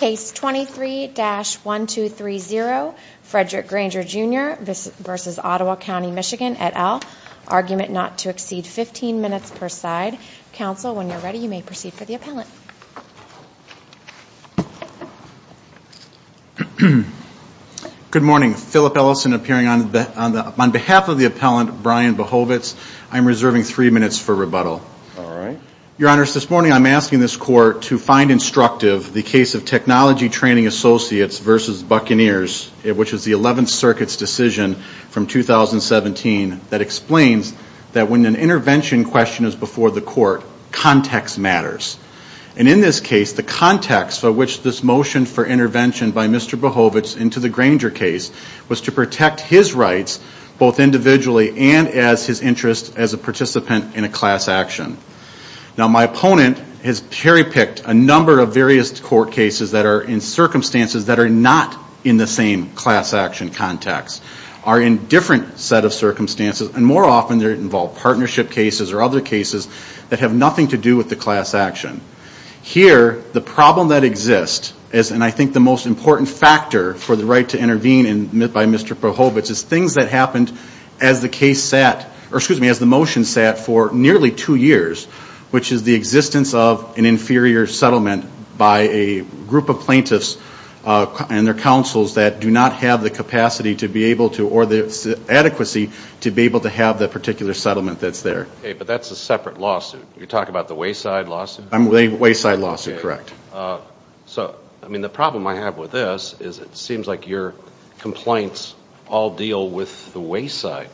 Case 23-1230 Frederick Grainger Jr v. Ottawa County MI et al., argument not to exceed 15 minutes per side. Counsel, when you're ready, you may proceed for the appellant. Good morning. Philip Ellison appearing on behalf of the appellant, Brian Behovitz. I'm reserving three minutes for rebuttal. Your Honor, this morning I'm asking this court to find instructive the case of Technology Training Associates v. Buccaneers, which is the 11th Circuit's decision from 2017 that explains that when an intervention question is before the court, context matters. And in this case, the context for which this motion for intervention by Mr. Behovitz into the Grainger case was to protect his rights both individually and as his interest as a class action. Now, my opponent has cherry-picked a number of various court cases that are in circumstances that are not in the same class action context, are in different set of circumstances, and more often they involve partnership cases or other cases that have nothing to do with the class action. Here, the problem that exists is, and I think the most important factor for the right to intervene by Mr. Behovitz is things that happened as the case sat, or excuse me, as the motion sat for nearly two years, which is the existence of an inferior settlement by a group of plaintiffs and their counsels that do not have the capacity to be able to, or the adequacy to be able to have that particular settlement that's there. Okay, but that's a separate lawsuit. You're talking about the Wayside lawsuit? The Wayside lawsuit, correct. So I mean, the problem I have with this is it seems like your complaints all deal with the Wayside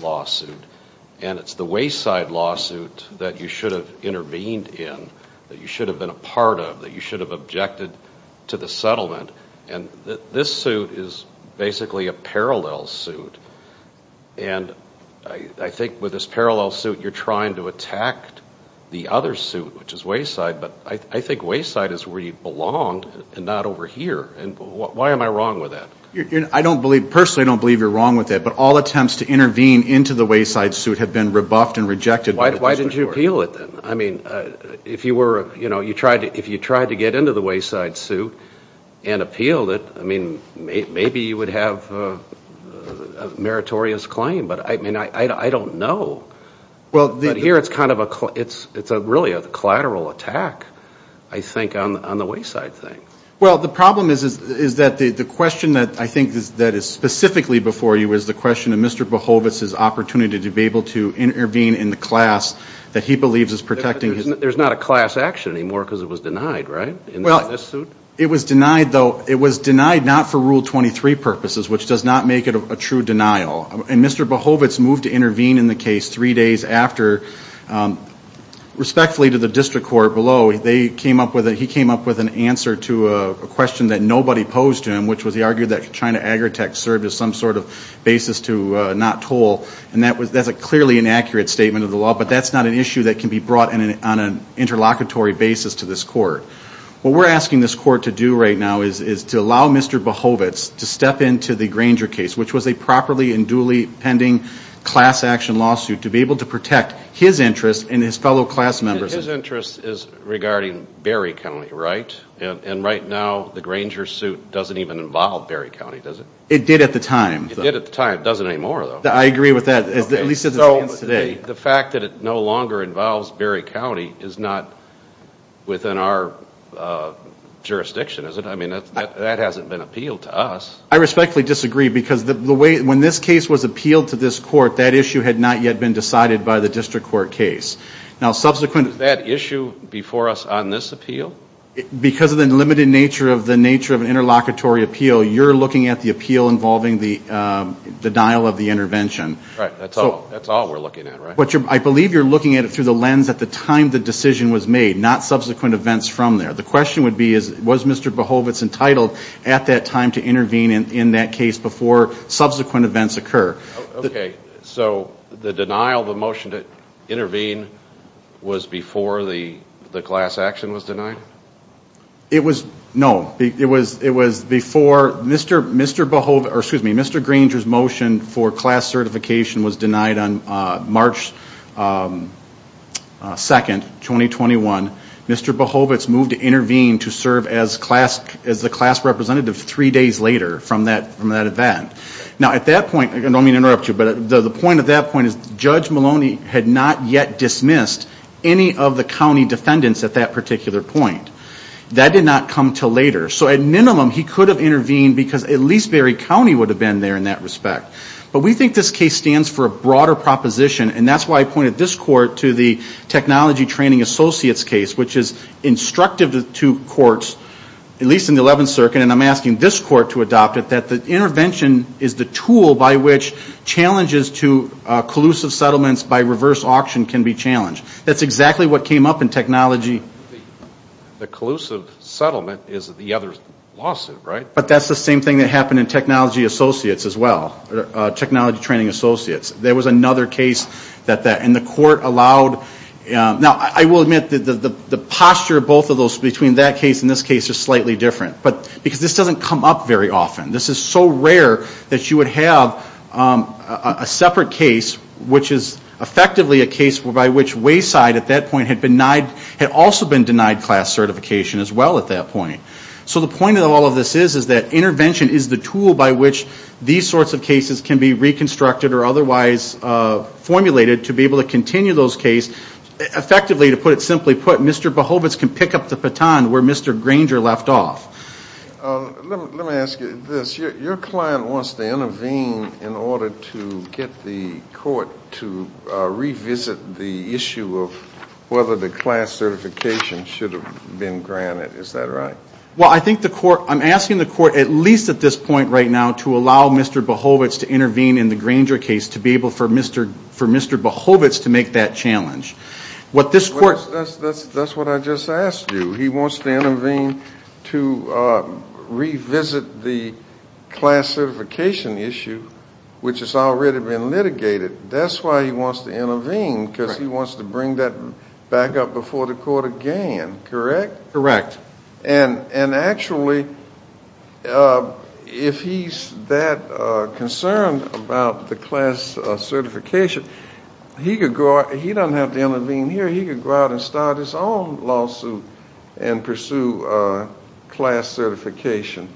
lawsuit and it's the Wayside lawsuit that you should have intervened in, that you should have been a part of, that you should have objected to the settlement, and this suit is basically a parallel suit, and I think with this parallel suit, you're trying to attack the other suit, which is Wayside, but I think Wayside is where you belong and not over here, and why am I wrong with that? I don't believe, personally I don't believe you're wrong with it, but all attempts to intervene into the Wayside suit have been rebuffed and rejected. Why didn't you appeal it then? I mean, if you were, you know, if you tried to get into the Wayside suit and appealed it, I mean, maybe you would have a meritorious claim, but I mean, I don't know, but here it's kind of a, it's really a collateral attack, I think, on the Wayside thing. Well, the problem is that the question that I think that is specifically before you is the question of Mr. Behovitz's opportunity to be able to intervene in the class that he believes is protecting his... There's not a class action anymore because it was denied, right, in this suit? It was denied, though, it was denied not for Rule 23 purposes, which does not make it a true denial, and Mr. Behovitz moved to intervene in the case three days after, respectfully to the district court below, they came up with, he came up with an answer to a question that nobody posed to him, which was he argued that China Agritech served as some sort of basis to not toll, and that's a clearly inaccurate statement of the law, but that's not an issue that can be brought on an interlocutory basis to this court. What we're asking this court to do right now is to allow Mr. Behovitz to step into the Granger case, which was a properly and duly pending class action lawsuit, to be able to protect his interest and his fellow class members. His interest is regarding Berry County, right? And right now, the Granger suit doesn't even involve Berry County, does it? It did at the time. It did at the time. It doesn't anymore, though. I agree with that, at least as it stands today. The fact that it no longer involves Berry County is not within our jurisdiction, is it? I mean, that hasn't been appealed to us. I respectfully disagree because the way, when this case was appealed to this court, that issue had not yet been decided by the district court case. Now subsequent... Was that issue before us on this appeal? Because of the limited nature of the nature of an interlocutory appeal, you're looking at the appeal involving the denial of the intervention. Right. That's all we're looking at, right? I believe you're looking at it through the lens at the time the decision was made, not subsequent events from there. The question would be, was Mr. Behovitz entitled at that time to intervene in that case before subsequent events occur? Okay, so the denial of the motion to intervene was before the class action was denied? It was... No. It was before Mr. Behovitz, or excuse me, Mr. Granger's motion for class certification was denied on March 2nd, 2021. Mr. Behovitz moved to intervene to serve as the class representative three days later from that event. Now at that point, I don't mean to interrupt you, but the point at that point is Judge Maloney had not yet dismissed any of the county defendants at that particular point. That did not come until later. So at minimum, he could have intervened because at least Barry County would have been there in that respect. But we think this case stands for a broader proposition, and that's why I pointed this court to the technology training associates case, which is instructive to courts, at least in the 11th Circuit. And I'm asking this court to adopt it, that the intervention is the tool by which challenges to collusive settlements by reverse auction can be challenged. That's exactly what came up in technology... The collusive settlement is the other's lawsuit, right? But that's the same thing that happened in technology associates as well, technology training associates. There was another case that that... And the court allowed... Now I will admit that the posture of both of those between that case and this case is slightly different. But... Because this doesn't come up very often. This is so rare that you would have a separate case, which is effectively a case by which Wayside at that point had also been denied class certification as well at that point. So the point of all of this is, is that intervention is the tool by which these sorts of cases can be reconstructed or otherwise formulated to be able to continue those cases. Effectively to put it simply put, Mr. Behovitz can pick up the baton where Mr. Granger left off. Let me ask you this. Your client wants to intervene in order to get the court to revisit the issue of whether the class certification should have been granted. Is that right? Well, I think the court... I'm asking the court, at least at this point right now, to allow Mr. Behovitz to intervene in the Granger case to be able for Mr. Behovitz to make that challenge. What this court... That's what I just asked you. He wants to intervene to revisit the class certification issue, which has already been litigated. That's why he wants to intervene, because he wants to bring that back up before the court again. Correct? Correct. And actually, if he's that concerned about the class certification, he doesn't have to intervene here. He could go out and start his own lawsuit and pursue class certification.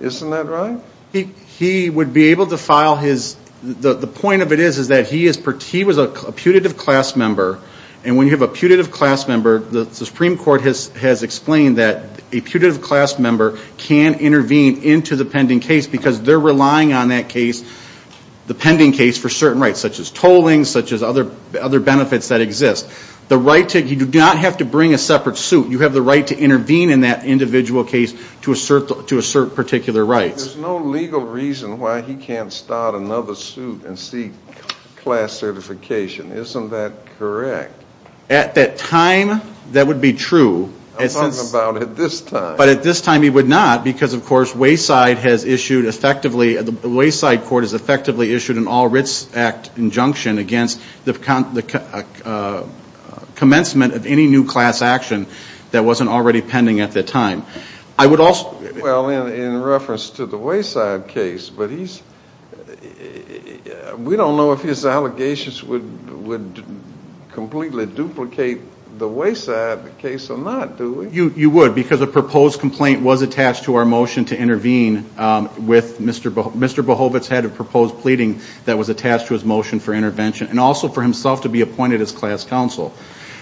Isn't that right? He would be able to file his... The point of it is that he was a putative class member, and when you have a putative class member, the Supreme Court has explained that a putative class member can intervene into the pending case, because they're relying on that case, the pending case, for certain rights, such as tolling, such as other benefits that exist. You do not have to bring a separate suit. You have the right to intervene in that individual case to assert particular rights. There's no legal reason why he can't start another suit and seek class certification. Isn't that correct? At that time, that would be true. I'm talking about at this time. But at this time, he would not, because of course, Wayside has issued effectively... The Wayside court has effectively issued an All Writs Act injunction against the commencement of any new class action that wasn't already pending at that time. I would also... Well, in reference to the Wayside case, but he's... We don't know if his allegations would completely duplicate the Wayside case or not, do we? You would, because a proposed complaint was attached to our motion to intervene with Mr. Behovitz, had a proposed pleading that was attached to his motion for intervention and also for himself to be appointed as class counsel.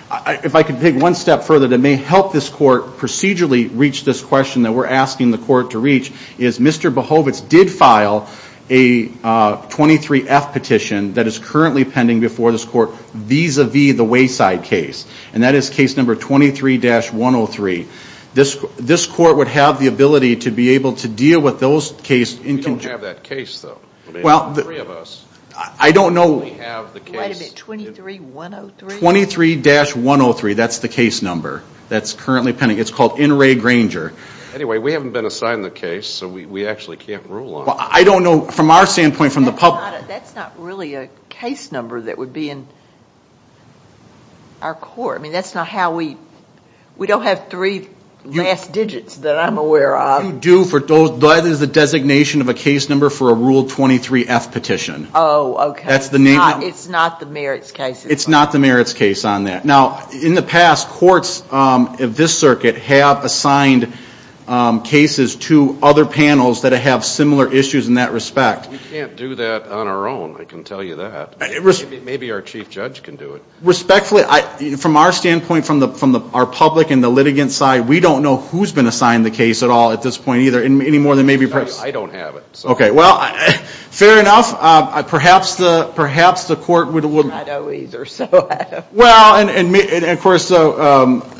If I could take one step further that may help this court procedurally reach this question that we're asking the court to reach, is Mr. Behovitz did file a 23F petition that is currently pending before this court vis-a-vis the Wayside case. And that is case number 23-103. This court would have the ability to be able to deal with those case... We don't have that case though. Well... The three of us. I don't know... We have the case. Wait a minute. 23-103? 23-103. That's the case number. That's currently pending. It's called N. Ray Granger. Anyway, we haven't been assigned the case, so we actually can't rule on it. I don't know. From our standpoint, from the public... That's not really a case number that would be in our court. That's not how we... We don't have three last digits that I'm aware of. You do for those... That is the designation of a case number for a Rule 23F petition. Oh, okay. That's the name... It's not the merits case. It's not the merits case on that. Now, in the past, courts of this circuit have assigned cases to other panels that have similar issues in that respect. We can't do that on our own, I can tell you that. Maybe our chief judge can do it. Respectfully, from our standpoint, from our public and the litigant side, we don't know who's been assigned the case at all at this point either, any more than maybe perhaps... I don't have it. Okay. Well, fair enough. Perhaps the court would... I don't either, so... Well,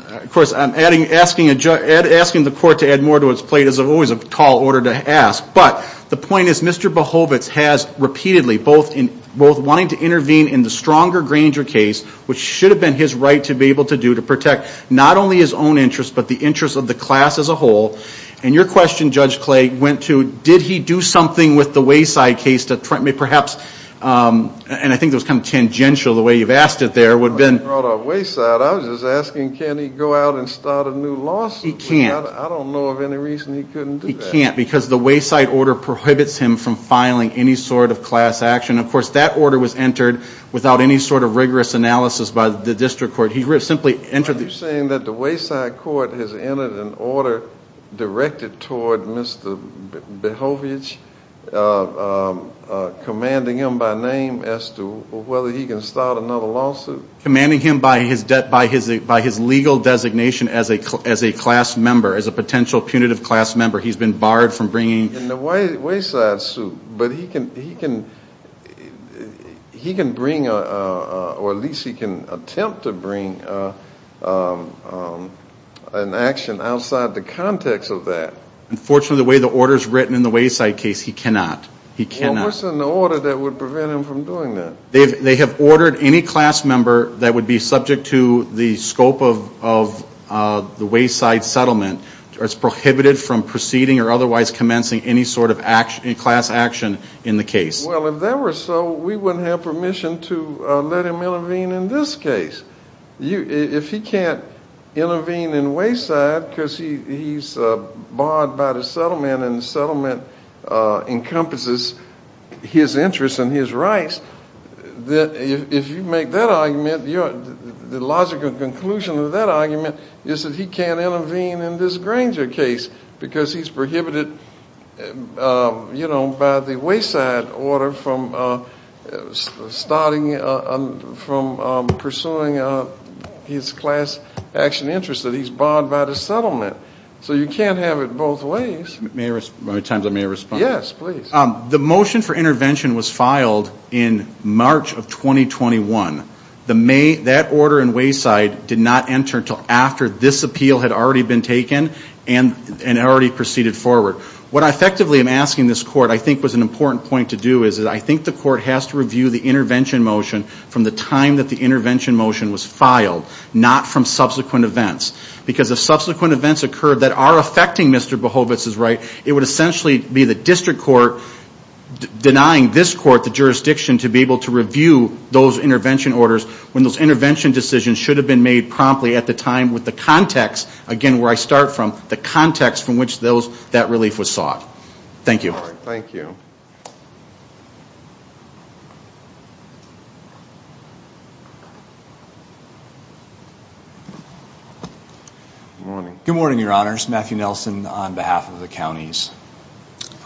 of course, asking the court to add more to its plate is always a tall order to ask, but the point is Mr. Behovitz has repeatedly both wanting to intervene in the Stronger Granger case, which should have been his right to be able to do to protect not only his own interest but the interest of the class as a whole, and your question, Judge Clay, went to did he do something with the Wayside case to perhaps... And I think that was kind of tangential, the way you've asked it there, would have been... I wasn't talking about Wayside. I was just asking, can he go out and start a new lawsuit? He can't. I don't know of any reason he couldn't do that. He can't because the Wayside order prohibits him from filing any sort of class action. Of course, that order was entered without any sort of rigorous analysis by the district court. He simply entered... Are you saying that the Wayside court has entered an order directed toward Mr. Behovitz, commanding him by name as to whether he can start another lawsuit? Commanding him by his legal designation as a class member, as a potential punitive class member. He's been barred from bringing... In the Wayside suit, but he can bring, or at least he can attempt to bring an action outside the context of that. Unfortunately, the way the order's written in the Wayside case, he cannot. He cannot. Well, what's in the order that would prevent him from doing that? They have ordered any class member that would be subject to the scope of the Wayside settlement as prohibited from proceeding or otherwise commencing any sort of class action in the case. Well, if that were so, we wouldn't have permission to let him intervene in this case. If he can't intervene in Wayside because he's barred by the settlement and the settlement encompasses his interests and his rights, if you make that argument, the logical conclusion of that argument is that he can't intervene in this Granger case because he's prohibited by the Wayside order from pursuing his class action interests that he's barred by the settlement. So you can't have it both ways. May I respond? How many times may I respond? Yes, please. The motion for intervention was filed in March of 2021. That order in Wayside did not enter until after this appeal had already been taken and had already proceeded forward. What I effectively am asking this court, I think was an important point to do, is that I think the court has to review the intervention motion from the time that the intervention motion was filed, not from subsequent events. Because if subsequent events occurred that are affecting Mr. Behovitz's right, it would essentially be the district court denying this court the jurisdiction to be able to review those intervention orders when those intervention decisions should have been made promptly at the time with the context, again, where I start from, the context from which that relief was sought. Thank you. All right. Thank you. Good morning. Good morning, Your Honors. Matthew Nelson on behalf of the counties.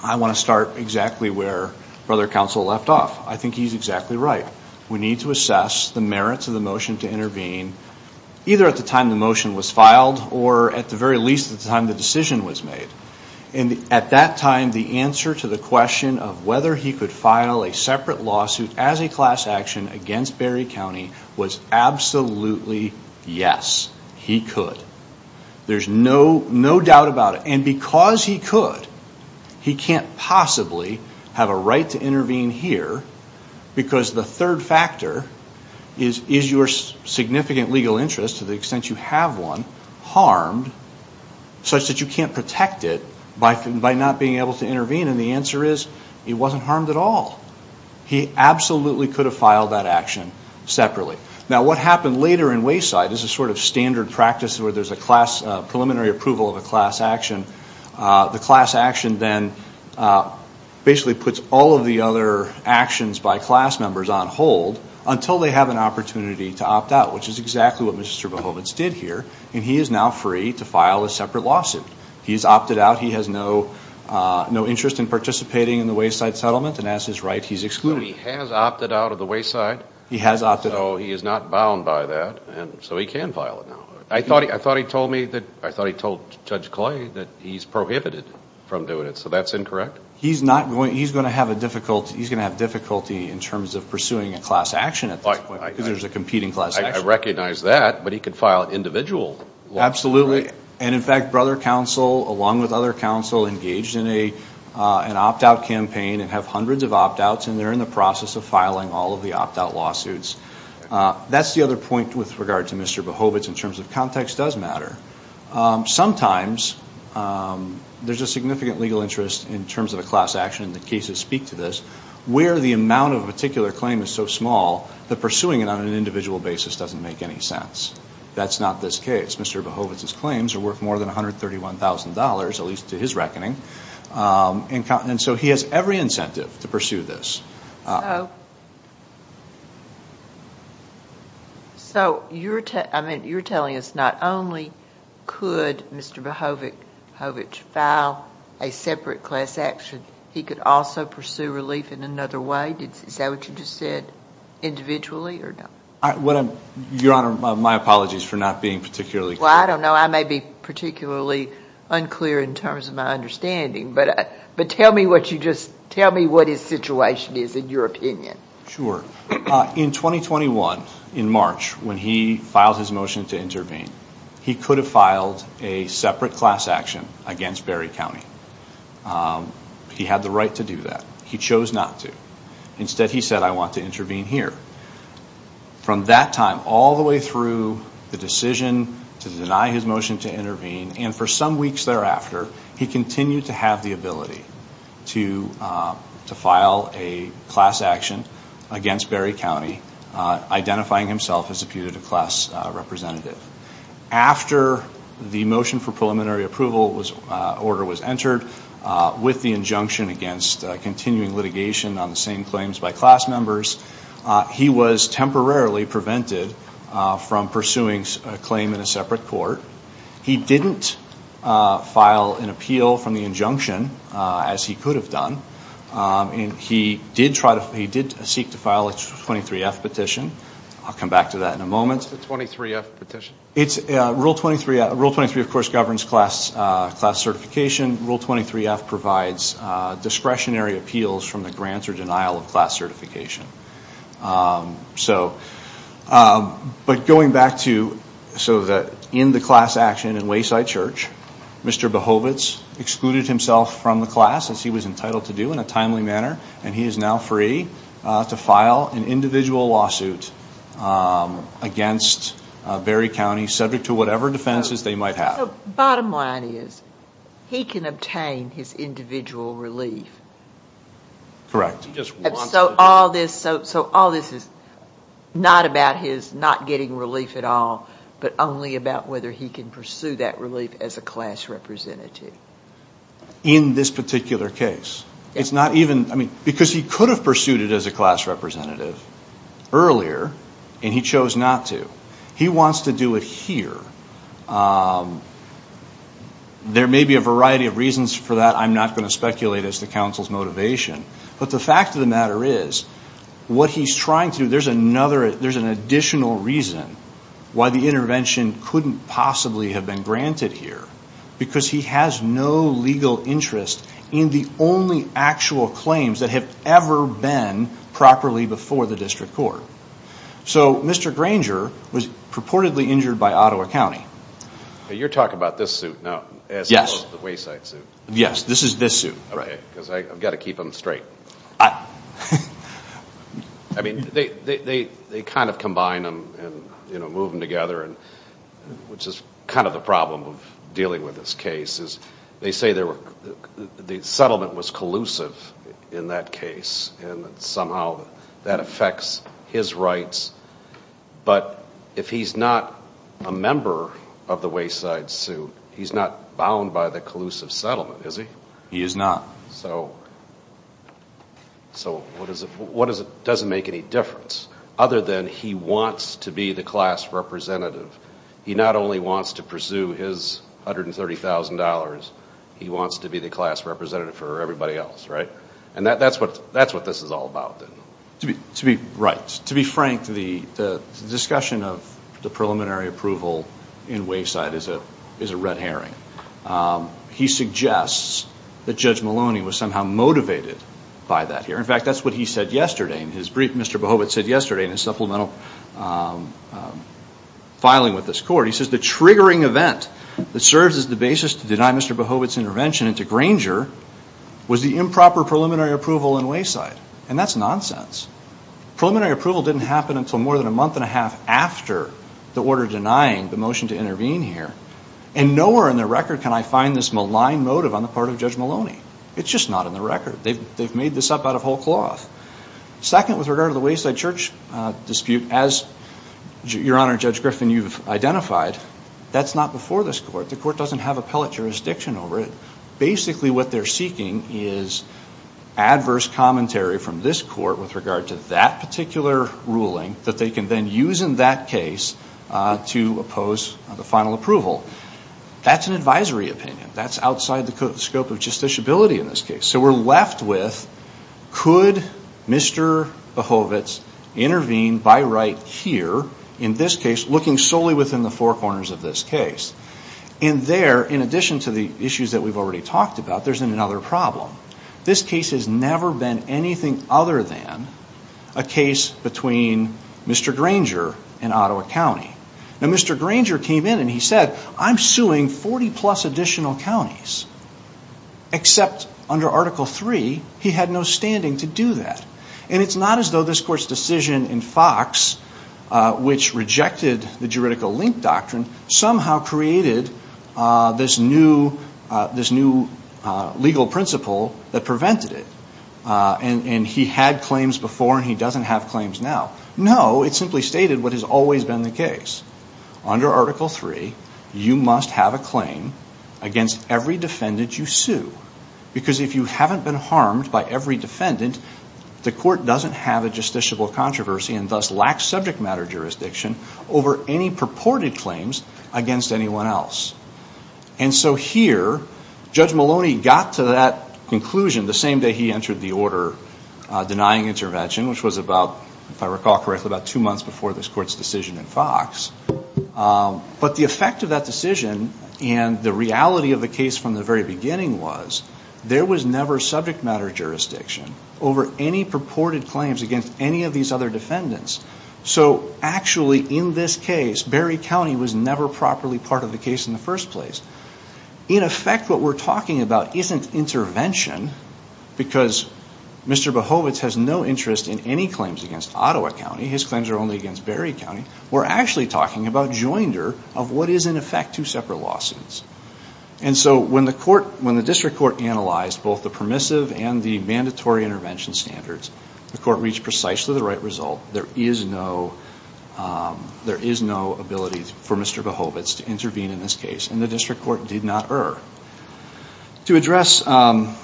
I want to start exactly where Brother Counsel left off. I think he's exactly right. We need to assess the merits of the motion to intervene either at the time the motion was filed or at the very least at the time the decision was made. At that time, the answer to the question of whether he could file a separate lawsuit as a class action against Berry County was absolutely yes, he could. There's no doubt about it. And because he could, he can't possibly have a right to intervene here because the third factor is, is your significant legal interest to the extent you have one harmed such that you can't protect it by not being able to intervene and the answer is it wasn't harmed at all. He absolutely could have filed that action separately. Now what happened later in Wayside is a sort of standard practice where there's a class, preliminary approval of a class action. The class action then basically puts all of the other actions by class members on hold until they have an opportunity to opt out, which is exactly what Mr. Bohovitz did here and he is now free to file a separate lawsuit. He's opted out. He has no interest in participating in the Wayside settlement and as his right, he's excluded. But he has opted out of the Wayside? He has opted out. So he is not bound by that and so he can file it now. I thought he told me that, I thought he told Judge Clay that he's prohibited from doing it. So that's incorrect? He's not going, he's going to have a difficulty, he's going to have difficulty in terms of pursuing a class action at this point because there's a competing class action. I recognize that, but he could file an individual lawsuit. Absolutely. And in fact, Brother Counsel along with other counsel engaged in an opt out campaign and have hundreds of opt outs and they're in the process of filing all of the opt out lawsuits. That's the other point with regard to Mr. Bohovitz in terms of context does matter. Sometimes there's a significant legal interest in terms of a class action and the cases speak to this, where the amount of a particular claim is so small that pursuing it on an individual basis doesn't make any sense. That's not this case. Mr. Bohovitz's claims are worth more than $131,000, at least to his reckoning. And so he has every incentive to pursue this. So, you're telling us not only could Mr. Bohovitz file a separate class action, he could also pursue relief in another way? Is that what you just said, individually or not? Your Honor, my apologies for not being particularly clear. Well, I don't know. I may be particularly unclear in terms of my understanding, but tell me what you just, tell me what his situation is in your opinion. In 2021, in March, when he filed his motion to intervene, he could have filed a separate class action against Berry County. He had the right to do that. He chose not to. Instead, he said, I want to intervene here. From that time all the way through the decision to deny his motion to intervene, and for some weeks thereafter, he continued to have the ability to file a class action against Berry County, identifying himself as a putative class representative. After the motion for preliminary approval was, order was entered, with the injunction against continuing litigation on the same claims by class members, he was temporarily prevented from pursuing a claim in a separate court. He didn't file an appeal from the injunction, as he could have done, and he did seek to file a 23-F petition. I'll come back to that in a moment. What's a 23-F petition? Rule 23, of course, governs class certification. Rule 23-F provides discretionary appeals from the grant or denial of class certification. So, but going back to, so that in the class action in Wayside Church, Mr. Behovitz excluded himself from the class, as he was entitled to do, in a timely manner, and he is now free to file an individual lawsuit against Berry County, subject to whatever defenses they might have. So, bottom line is, he can obtain his individual relief. Correct. So, all this is not about his not getting relief at all, but only about whether he can pursue that relief as a class representative. In this particular case. It's not even, I mean, because he could have pursued it as a class representative earlier, and he chose not to. He wants to do it here. There may be a variety of reasons for that. I'm not going to speculate as to counsel's motivation. But the fact of the matter is, what he's trying to do, there's another, there's an additional reason why the intervention couldn't possibly have been granted here. Because he has no legal interest in the only actual claims that have ever been properly before the district court. So, Mr. Granger was purportedly injured by Ottawa County. You're talking about this suit, now, as opposed to the Wayside suit. Yes. This is this suit. Right. Because I've got to keep them straight. I mean, they kind of combine them and, you know, move them together, which is kind of the problem of dealing with this case. They say the settlement was collusive in that case, and that somehow that affects his rights. But if he's not a member of the Wayside suit, he's not bound by the collusive settlement, is he? He is not. So, so what does it, what does it, does it make any difference? Other than he wants to be the class representative. He not only wants to pursue his $130,000, he wants to be the class representative for everybody else, right? And that, that's what, that's what this is all about, then. To be, to be right. To be frank, the discussion of the preliminary approval in Wayside is a, is a red herring. He suggests that Judge Maloney was somehow motivated by that here. In fact, that's what he said yesterday in his brief, Mr. Behovet said yesterday in his supplemental filing with this court. He says the triggering event that serves as the basis to deny Mr. Behovet's intervention into Granger was the improper preliminary approval in Wayside. And that's nonsense. Preliminary approval didn't happen until more than a month and a half after the order denying the motion to intervene here. And nowhere in the record can I find this malign motive on the part of Judge Maloney. It's just not in the record. They've, they've made this up out of whole cloth. Second, with regard to the Wayside Church dispute, as Your Honor, Judge Griffin, you've identified, that's not before this court. The court doesn't have appellate jurisdiction over it. Basically what they're seeking is adverse commentary from this court with regard to that particular ruling that they can then use in that case to oppose the final approval. That's an advisory opinion. That's outside the scope of justiciability in this case. So we're left with, could Mr. Behovet's intervene by right here, in this case, looking solely within the four corners of this case? And there, in addition to the issues that we've already talked about, there's another problem. This case has never been anything other than a case between Mr. Granger and Ottawa County. Now, Mr. Granger came in and he said, I'm suing 40 plus additional counties, except under Article 3, he had no standing to do that. And it's not as though this court's decision in Fox, which rejected the juridical link doctrine, somehow created this new legal principle that prevented it. And he had claims before and he doesn't have claims now. No, it simply stated what has always been the case. Under Article 3, you must have a claim against every defendant you sue. Because if you haven't been harmed by every defendant, the court doesn't have a justiciable controversy and thus lacks subject matter jurisdiction over any purported claims against anyone else. And so here, Judge Maloney got to that conclusion the same day he entered the order denying intervention, which was about, if I recall correctly, about two months before this court's decision in Fox. But the effect of that decision and the reality of the case from the very beginning was, there was never subject matter jurisdiction over any purported claims against any of these other defendants. So actually, in this case, Berry County was never properly part of the case in the first place. In effect, what we're talking about isn't intervention, because Mr. Behovitz has no interest in any claims against Ottawa County, his claims are only against Berry County. We're actually talking about joinder of what is in effect two separate lawsuits. And so when the court, when the district court analyzed both the permissive and the mandatory intervention standards, the court reached precisely the right result. There is no, there is no ability for Mr. Behovitz to intervene in this case, and the district court did not err. To address a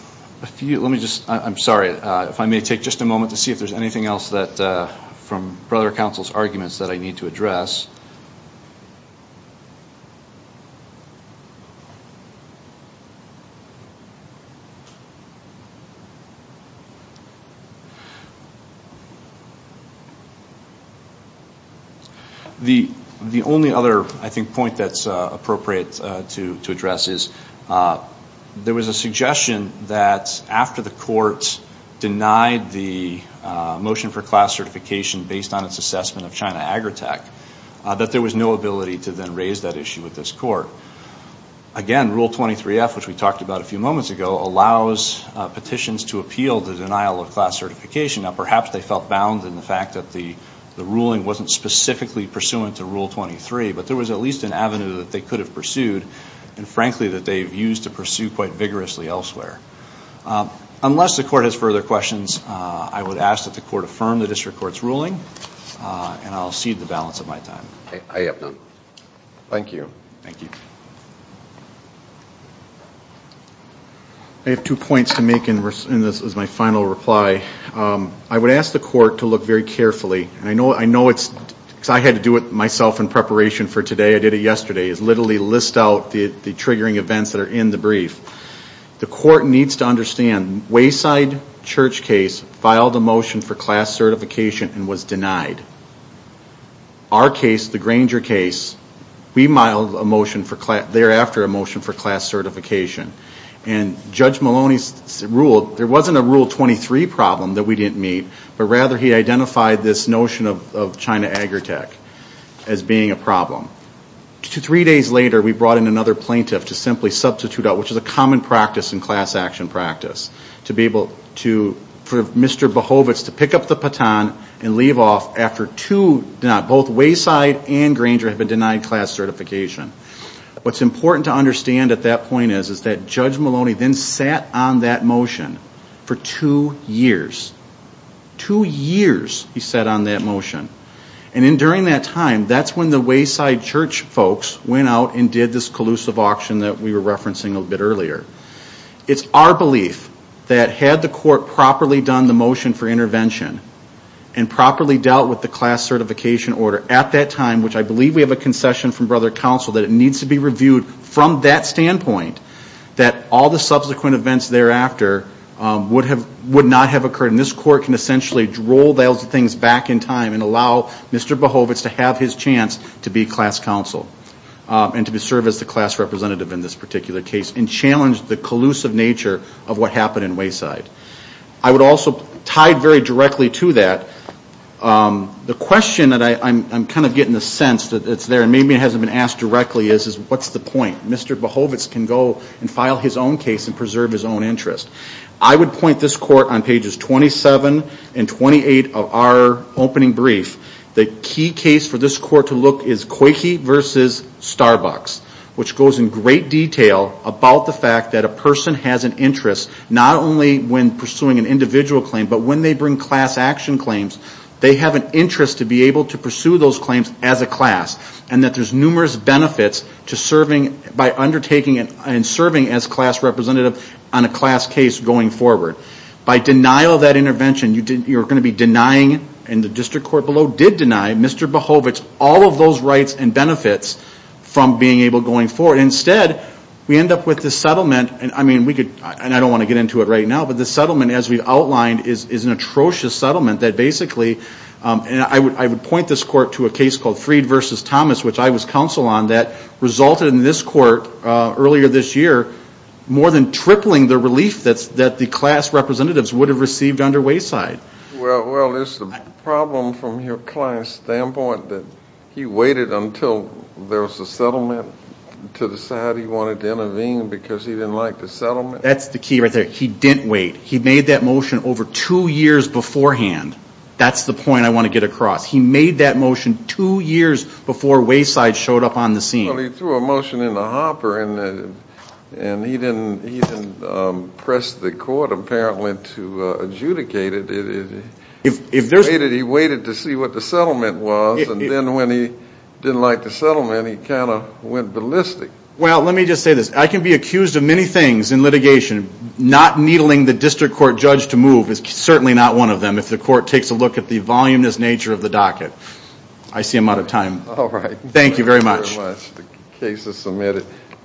few, let me just, I'm sorry, if I may take just a moment to see if there's anything else that, from brother counsel's arguments that I need to address. The only other, I think, point that's appropriate to address is, there was a suggestion that after the court denied the motion for class certification based on its assessment of China Agritech, that there was no ability to then raise that issue with this court. Again, Rule 23F, which we talked about a few moments ago, allows petitions to appeal the denial of class certification. Now, perhaps they felt bound in the fact that the ruling wasn't specifically pursuant to Rule 23, but there was at least an avenue that they could have pursued, and frankly that they've used to pursue quite vigorously elsewhere. Unless the court has further questions, I would ask that the court affirm the district court's ruling, and I'll cede the balance of my time. I have none. Thank you. Thank you. I have two points to make, and this is my final reply. I would ask the court to look very carefully, and I know it's, because I had to do it myself in preparation for today, I did it yesterday, is literally list out the triggering events that are in the brief. The court needs to understand, Wayside Church case filed a motion for class certification and was denied. Our case, the Granger case, we filed a motion for, thereafter, a motion for class certification, and Judge Maloney's rule, there wasn't a Rule 23 problem that we didn't meet, but rather he identified this notion of China Agritech as being a problem. Three days later, we brought in another plaintiff to simply substitute out, which is a common practice in class action practice, to be able to, for Mr. Behovitz to pick up the baton and leave off after two, both Wayside and Granger have been denied class certification. What's important to understand at that point is, is that Judge Maloney then sat on that motion for two years. Two years, he sat on that motion. And during that time, that's when the Wayside Church folks went out and did this collusive auction that we were referencing a bit earlier. It's our belief that had the court properly done the motion for intervention, and properly dealt with the class certification order at that time, which I believe we have a concession from brother counsel that it needs to be reviewed from that standpoint, that all the subsequent events thereafter would not have occurred. And this court can essentially roll those things back in time and allow Mr. Behovitz to have his chance to be class counsel, and to serve as the class representative in this particular case, and challenge the collusive nature of what happened in Wayside. I would also, tied very directly to that, the question that I'm kind of getting the sense that it's there, and maybe it hasn't been asked directly is, is what's the point? Mr. Behovitz can go and file his own case and preserve his own interest. I would point this court on pages 27 and 28 of our opening brief, the key case for this court to look is Coyke v. Starbucks, which goes in great detail about the fact that a person has an interest, not only when pursuing an individual claim, but when they bring class action claims, they have an interest to be able to pursue those claims as a class. And that there's numerous benefits to serving, by undertaking and serving as class representative on a class case going forward. By denial of that intervention, you're going to be denying, and the district court below did deny, Mr. Behovitz all of those rights and benefits from being able, going forward. Instead, we end up with this settlement, and I mean, we could, and I don't want to get into it right now, but this settlement, as we've outlined, is an atrocious settlement that basically, and I would point this court to a case called Freed v. Thomas, which I was counsel on, that resulted in this court, earlier this year, more than tripling the relief that the class representatives would have received under Wayside. Well, is the problem from your client's standpoint that he waited until there was a settlement to decide he wanted to intervene because he didn't like the settlement? That's the key right there. He didn't wait. He made that motion over two years beforehand. That's the point I want to get across. He made that motion two years before Wayside showed up on the scene. Well, he threw a motion in the hopper, and he didn't press the court, apparently, to adjudicate it. If there's a way that he waited to see what the settlement was, and then when he didn't like the settlement, he kind of went ballistic. Well, let me just say this. I can be accused of many things in litigation. Not needling the district court judge to move is certainly not one of them, if the court takes a look at the voluminous nature of the docket. I see I'm out of time. Thank you very much. Thank you very much. The case is submitted.